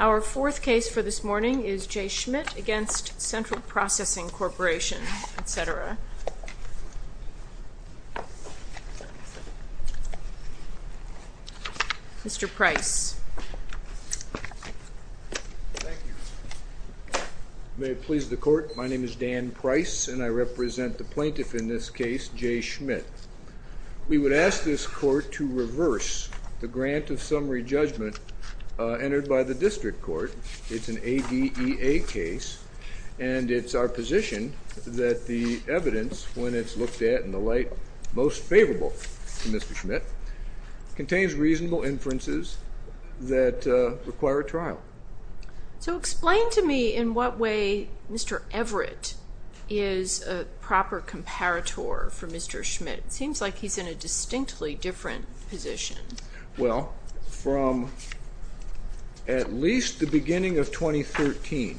Our fourth case for this morning is J. Schmitt v. Central Processing Corporation, etc. Mr. Price. Thank you. May it please the Court, my name is Dan Price, and I represent the plaintiff in this case, J. Schmitt. We would ask this Court to reverse the grant of summary judgment entered by the District Court. It's an ADEA case, and it's our position that the evidence, when it's looked at in the light most favorable to Mr. Schmitt, contains reasonable inferences that require a trial. So explain to me in what way Mr. Everett is a proper comparator for Mr. Schmitt. It seems like he's in a distinctly different position. Well, from at least the beginning of 2013,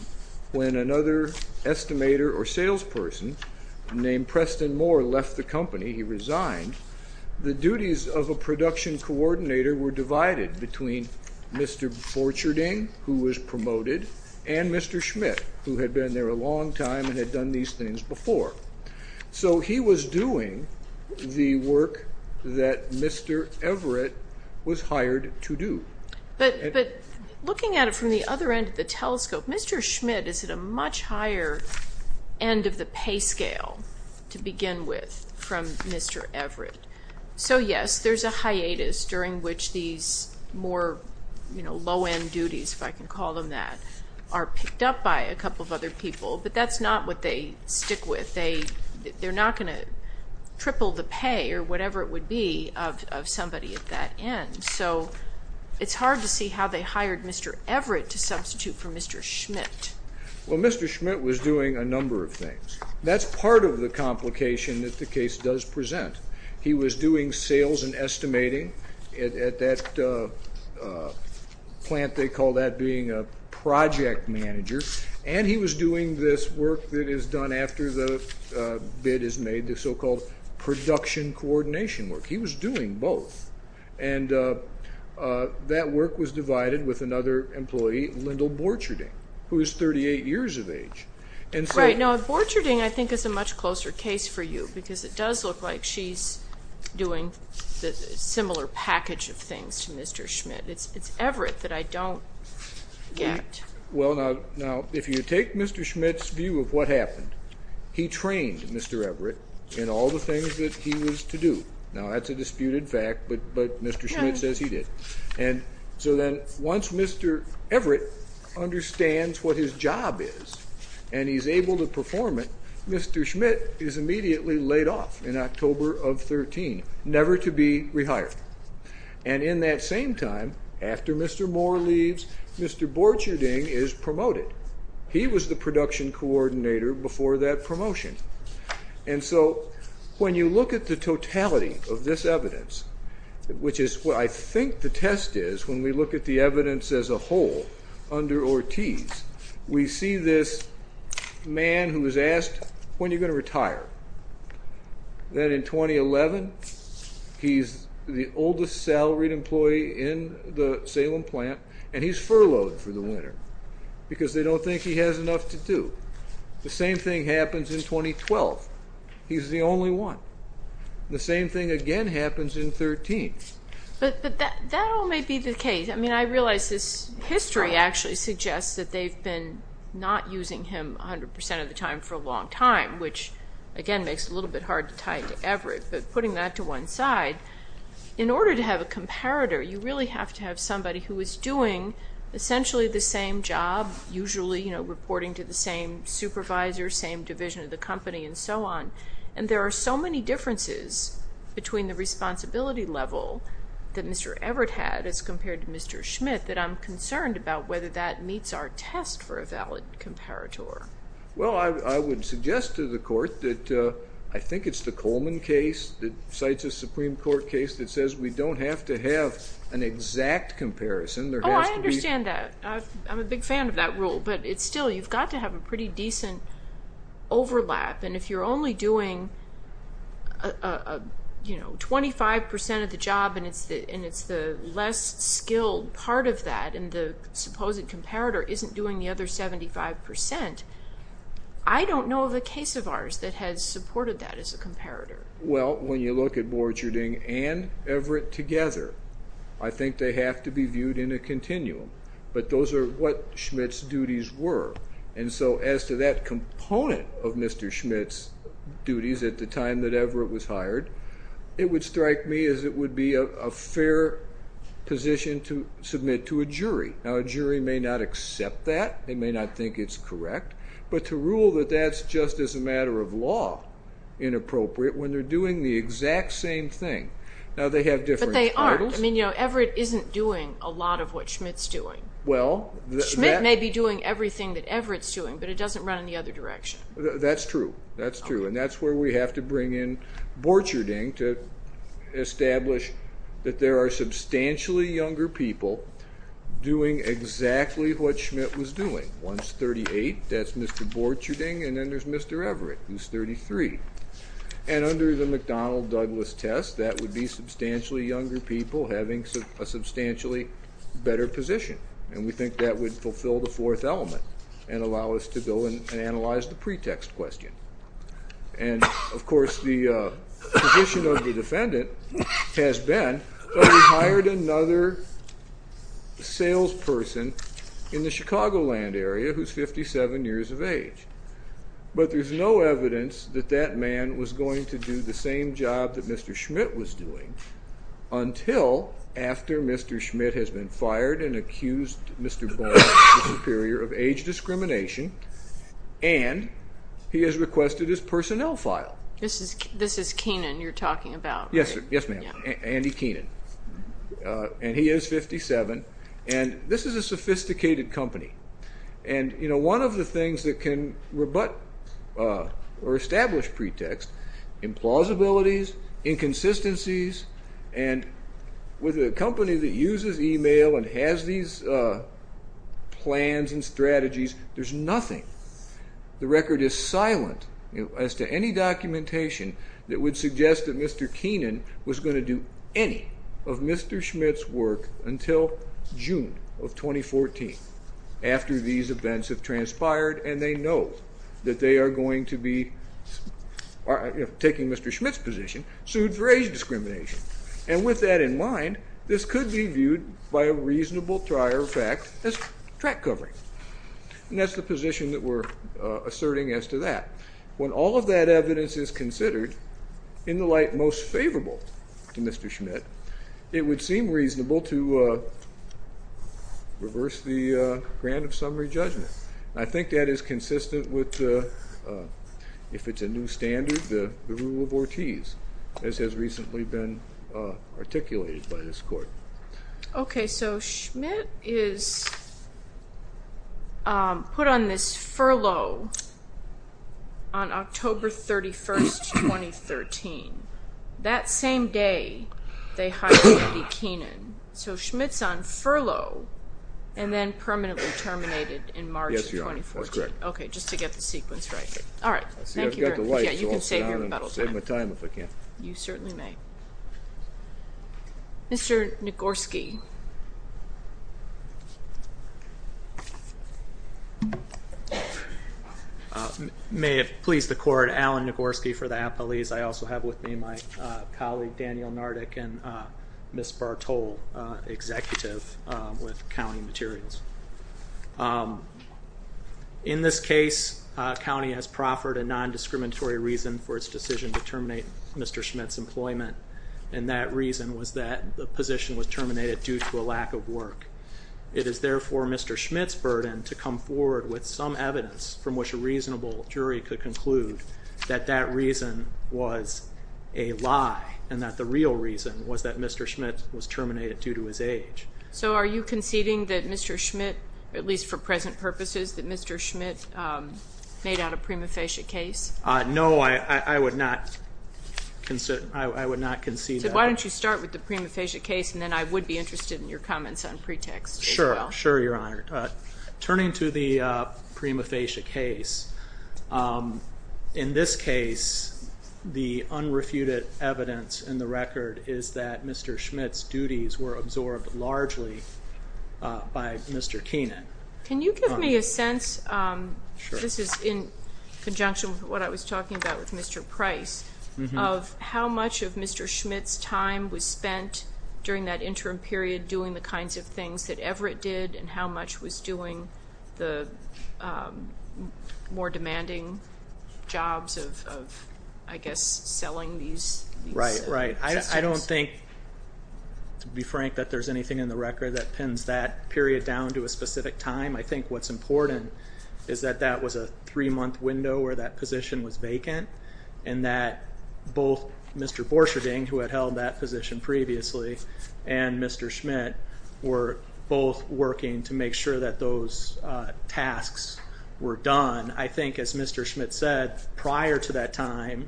when another estimator or salesperson named Preston Moore left the company, he resigned, the duties of a production coordinator were divided between Mr. Borcherding, who was promoted, and Mr. Schmitt, who had been there a long time and had done these things before. So he was doing the work that Mr. Everett was hired to do. But looking at it from the other end of the telescope, Mr. Schmitt is at a much higher end of the pay scale to begin with from Mr. Everett. So, yes, there's a hiatus during which these more low-end duties, if I can call them that, are picked up by a couple of other people, but that's not what they stick with. They're not going to triple the pay or whatever it would be of somebody at that end. So it's hard to see how they hired Mr. Everett to substitute for Mr. Schmitt. Well, Mr. Schmitt was doing a number of things. That's part of the complication that the case does present. He was doing sales and estimating at that plant. They call that being a project manager. And he was doing this work that is done after the bid is made, the so-called production coordination work. He was doing both. And that work was divided with another employee, Lyndall Borcherding, who is 38 years of age. Right. Now, Borcherding, I think, is a much closer case for you because it does look like she's doing a similar package of things to Mr. Schmitt. It's Everett that I don't get. Well, now, if you take Mr. Schmitt's view of what happened, he trained Mr. Everett in all the things that he was to do. Now, that's a disputed fact, but Mr. Schmitt says he did. And so then once Mr. Everett understands what his job is and he's able to perform it, Mr. Schmitt is immediately laid off in October of 2013, never to be rehired. And in that same time, after Mr. Moore leaves, Mr. Borcherding is promoted. He was the production coordinator before that promotion. And so when you look at the totality of this evidence, which is what I think the test is when we look at the evidence as a whole under Ortiz, we see this man who was asked, when are you going to retire? Then in 2011, he's the oldest salaried employee in the Salem plant, and he's furloughed for the winter because they don't think he has enough to do. The same thing happens in 2012. He's the only one. The same thing again happens in 2013. But that all may be the case. I mean, I realize this history actually suggests that they've been not using him 100% of the time for a long time, which, again, makes it a little bit hard to tie it to Everett. But putting that to one side, in order to have a comparator, you really have to have somebody who is doing essentially the same job, usually reporting to the same supervisor, same division of the company, and so on. And there are so many differences between the responsibility level that Mr. Everett had as compared to Mr. Schmitt that I'm concerned about whether that meets our test for a valid comparator. Well, I would suggest to the Court that I think it's the Coleman case that cites a Supreme Court case that says we don't have to have an exact comparison. Oh, I understand that. I'm a big fan of that rule. But still, you've got to have a pretty decent overlap. And if you're only doing 25% of the job and it's the less skilled part of that, and the supposed comparator isn't doing the other 75%, I don't know of a case of ours that has supported that as a comparator. Well, when you look at Borgerding and Everett together, I think they have to be viewed in a continuum. But those are what Schmitt's duties were. And so as to that component of Mr. Schmitt's duties at the time that Everett was hired, it would strike me as it would be a fair position to submit to a jury. Now, a jury may not accept that. They may not think it's correct. But to rule that that's just as a matter of law inappropriate when they're doing the exact same thing. Now, they have different titles. But they aren't. I mean, Everett isn't doing a lot of what Schmitt's doing. Schmitt may be doing everything that Everett's doing, but it doesn't run in the other direction. That's true. That's true. And that's where we have to bring in Borgerding to establish that there are substantially younger people doing exactly what Schmitt was doing. One's 38. That's Mr. Borgerding. And then there's Mr. Everett, who's 33. And under the McDonnell-Douglas test, that would be substantially younger people having a substantially better position. And we think that would fulfill the fourth element and allow us to go and analyze the pretext question. And, of course, the position of the defendant has been that we hired another salesperson in the Chicagoland area who's 57 years of age. But there's no evidence that that man was going to do the same job that Mr. Schmitt was doing until after Mr. Schmitt has been fired and accused Mr. Borgerding of age discrimination, and he has requested his personnel file. This is Keenan you're talking about, right? Yes, ma'am. Andy Keenan. And he is 57. And this is a sophisticated company. And, you know, one of the things that can rebut or establish pretext, implausibilities, inconsistencies, and with a company that uses e-mail and has these plans and strategies, there's nothing. The record is silent as to any documentation that would suggest that Mr. Keenan was going to do any of Mr. Schmitt's work until June of 2014 after these events have transpired and they know that they are going to be taking Mr. Schmitt's position, sued for age discrimination. And with that in mind, this could be viewed by a reasonable trier of fact as track covering. And that's the position that we're asserting as to that. When all of that evidence is considered in the light most favorable to Mr. Schmitt, it would seem reasonable to reverse the grant of summary judgment. I think that is consistent with, if it's a new standard, the rule of Ortiz, as has recently been articulated by this court. Okay, so Schmitt is put on this furlough on October 31st, 2013. That same day they hired Eddie Keenan. So Schmitt's on furlough and then permanently terminated in March of 2014. Yes, Your Honor, that's correct. Okay, just to get the sequence right. All right, thank you very much. I've got the light, so I'll sit down and save my time if I can. You certainly may. Mr. Nagorski. May it please the court, Alan Nagorski for the appellees. I also have with me my colleague Daniel Nardic and Ms. Bartol, executive with County Materials. In this case, county has proffered a non-discriminatory reason for its decision to terminate Mr. Schmitt's employment. And that reason was that the position was terminated due to a lack of work. It is therefore Mr. Schmitt's burden to come forward with some evidence from which a reasonable jury could conclude that that reason was a lie and that the real reason was that Mr. Schmitt was terminated due to his age. So are you conceding that Mr. Schmitt, at least for present purposes, that Mr. Schmitt made out a prima facie case? No, I would not concede that. So why don't you start with the prima facie case, and then I would be interested in your comments on pretext as well. Sure, Your Honor. Turning to the prima facie case, in this case, the unrefuted evidence in the record is that Mr. Schmitt's duties were absorbed largely by Mr. Keenan. Can you give me a sense, this is in conjunction with what I was talking about with Mr. Price, of how much of Mr. Schmitt's time was spent during that interim period doing the kinds of things that Everett did and how much was doing the more demanding jobs of, I guess, selling these. Right, right. I don't think, to be frank, that there's anything in the record that pins that period down to a specific time. I think what's important is that that was a three-month window where that position was vacant and that both Mr. Borcherding, who had held that position previously, and Mr. Schmitt were both working to make sure that those tasks were done. I think, as Mr. Schmitt said, prior to that time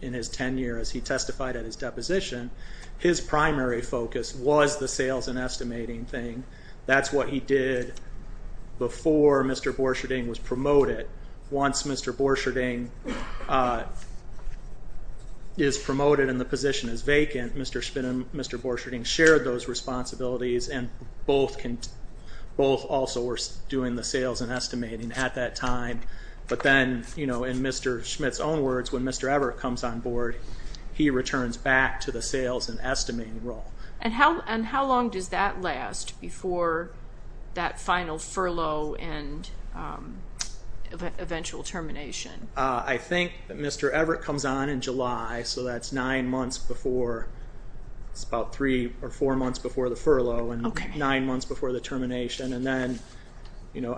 in his tenure as he testified at his deposition, his primary focus was the sales and estimating thing. That's what he did before Mr. Borcherding was promoted. Once Mr. Borcherding is promoted and the position is vacant, Mr. Schmitt and Mr. Borcherding shared those responsibilities and both also were doing the sales and estimating at that time. But then, in Mr. Schmitt's own words, when Mr. Everett comes on board, he returns back to the sales and estimating role. And how long does that last before that final furlough and eventual termination? I think that Mr. Everett comes on in July, so that's about three or four months before the furlough and nine months before the termination. And then,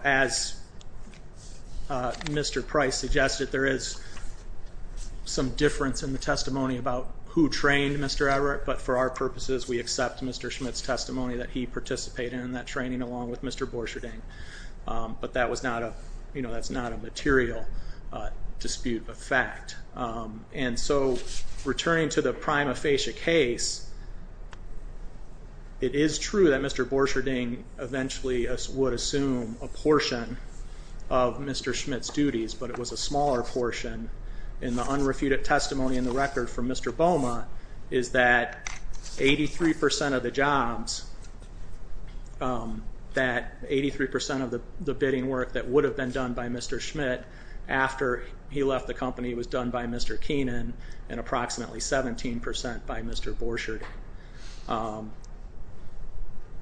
as Mr. Price suggested, there is some difference in the testimony about who trained Mr. Everett, but for our purposes we accept Mr. Schmitt's testimony that he participated in that training along with Mr. Borcherding. But that's not a material dispute of fact. And so, returning to the prima facie case, it is true that Mr. Borcherding eventually would assume a portion of Mr. Schmitt's duties, but it was a smaller portion. And the unrefuted testimony in the record from Mr. Boma is that 83% of the jobs, that 83% of the bidding work that would have been done by Mr. Schmitt after he left the company was done by Mr. Keenan and approximately 17% by Mr. Borcherding.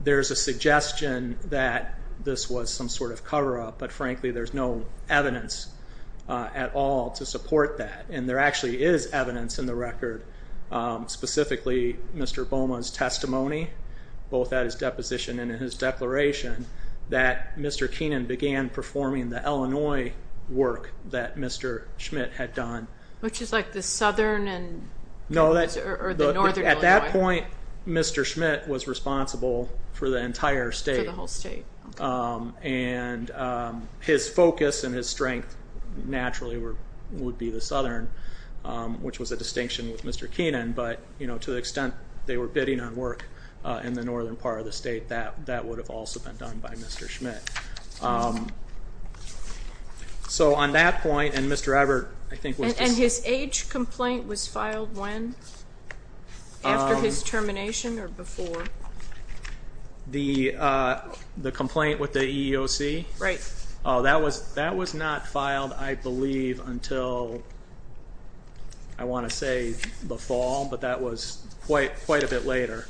There's a suggestion that this was some sort of cover-up, but frankly there's no evidence at all to support that. And there actually is evidence in the record, specifically Mr. Boma's testimony, both at his deposition and in his declaration, that Mr. Keenan began performing the Illinois work that Mr. Schmitt had done. Which is like the southern and northern Illinois. No, at that point Mr. Schmitt was responsible for the entire state. For the whole state. And his focus and his strength naturally would be the southern, which was a distinction with Mr. Keenan, but to the extent they were bidding on work in the northern part of the state, that would have also been done by Mr. Schmitt. So on that point, and Mr. Ebert I think was... And his age complaint was filed when? After his termination or before? The complaint with the EEOC? Right. That was not filed, I believe, until I want to say the fall, but that was quite a bit later.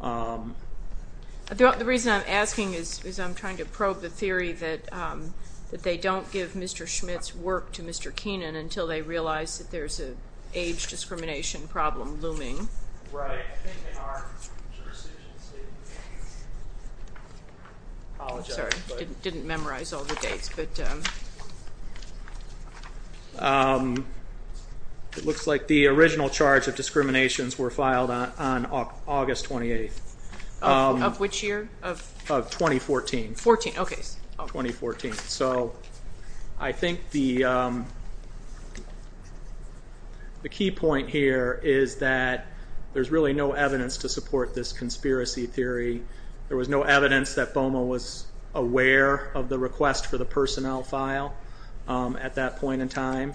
The reason I'm asking is I'm trying to probe the theory that they don't give Mr. Schmitt's work to Mr. Keenan until they realize that there's an age discrimination problem looming. Right. I'm sorry, I didn't memorize all the dates. It looks like the original charge of discriminations were filed on August 28th. Of which year? Of 2014. 14, okay. 2014. So I think the key point here is that there's really no evidence to support this conspiracy theory. There was no evidence that BOMA was aware of the request for the person file at that point in time.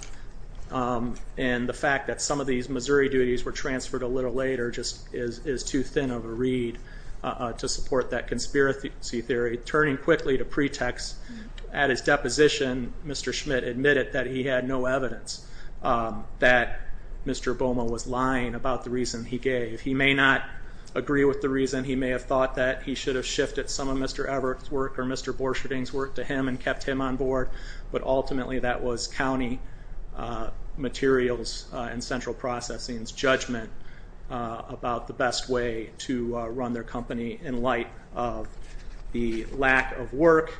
And the fact that some of these Missouri duties were transferred a little later just is too thin of a read to support that conspiracy theory. Turning quickly to pretext, at his deposition, Mr. Schmitt admitted that he had no evidence that Mr. BOMA was lying about the reason he gave. He may not agree with the reason. He may have thought that he should have shifted some of Mr. Ebert's work or Mr. Borsherding's work to him and kept him on board. But ultimately that was county materials and central processing's judgment about the best way to run their company in light of the lack of work.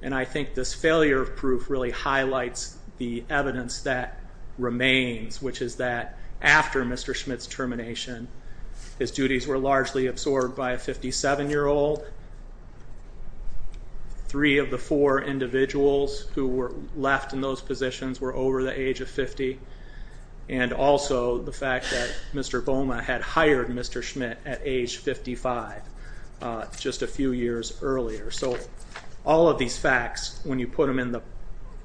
And I think this failure proof really highlights the evidence that remains, which is that after Mr. Schmitt's termination, his duties were largely absorbed by a 57-year-old. Three of the four individuals who were left in those positions were over the age of 50. And also the fact that Mr. BOMA had hired Mr. Schmitt at age 55 just a few years earlier. So all of these facts, when you put them in the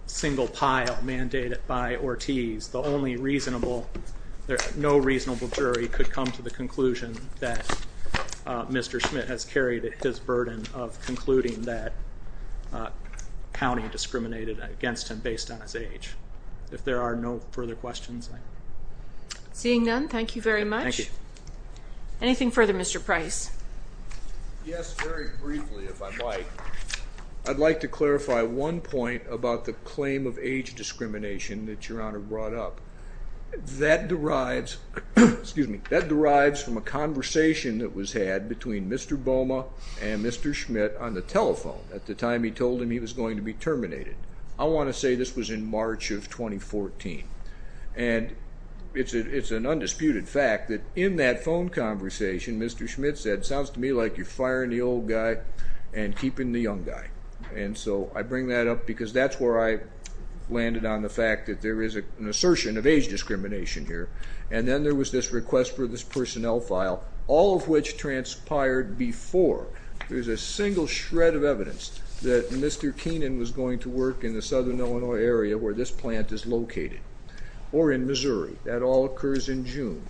single pile mandated by Ortiz, the only reasonable, no reasonable jury could come to the conclusion that Mr. Schmitt has carried his burden of concluding that county discriminated against him based on his age. If there are no further questions. Seeing none, thank you very much. Thank you. Anything further, Mr. Price? Yes, very briefly, if I might. I'd like to clarify one point about the claim of age discrimination that Your Honor brought up. That derives from a conversation that was had between Mr. BOMA and Mr. Schmitt on the telephone at the time he told him he was going to be terminated. I want to say this was in March of 2014. And it's an undisputed fact that in that phone conversation, Mr. Schmitt said, sounds to me like you're firing the old guy and keeping the young guy. And so I bring that up because that's where I landed on the fact that there is an assertion of age discrimination here. And then there was this request for this personnel file, all of which transpired before there was a single shred of evidence that Mr. Keenan was going to work in the southern Illinois area where this plant is located, or in Missouri. That all occurs in June.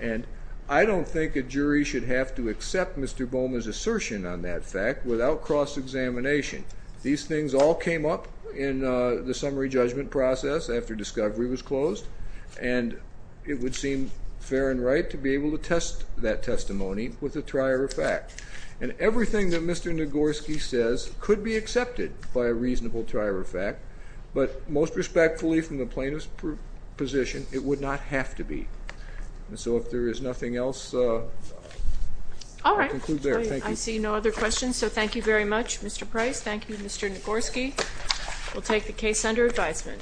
And I don't think a jury should have to accept Mr. BOMA's assertion on that fact without cross-examination. These things all came up in the summary judgment process after discovery was closed. And it would seem fair and right to be able to test that testimony with a trier of fact. And everything that Mr. Nagorski says could be accepted by a reasonable trier of fact, but most respectfully from the plaintiff's position, it would not have to be. And so if there is nothing else, I'll conclude there. Thank you. I see no other questions, so thank you very much, Mr. Price. Thank you, Mr. Nagorski. We'll take the case under advisement.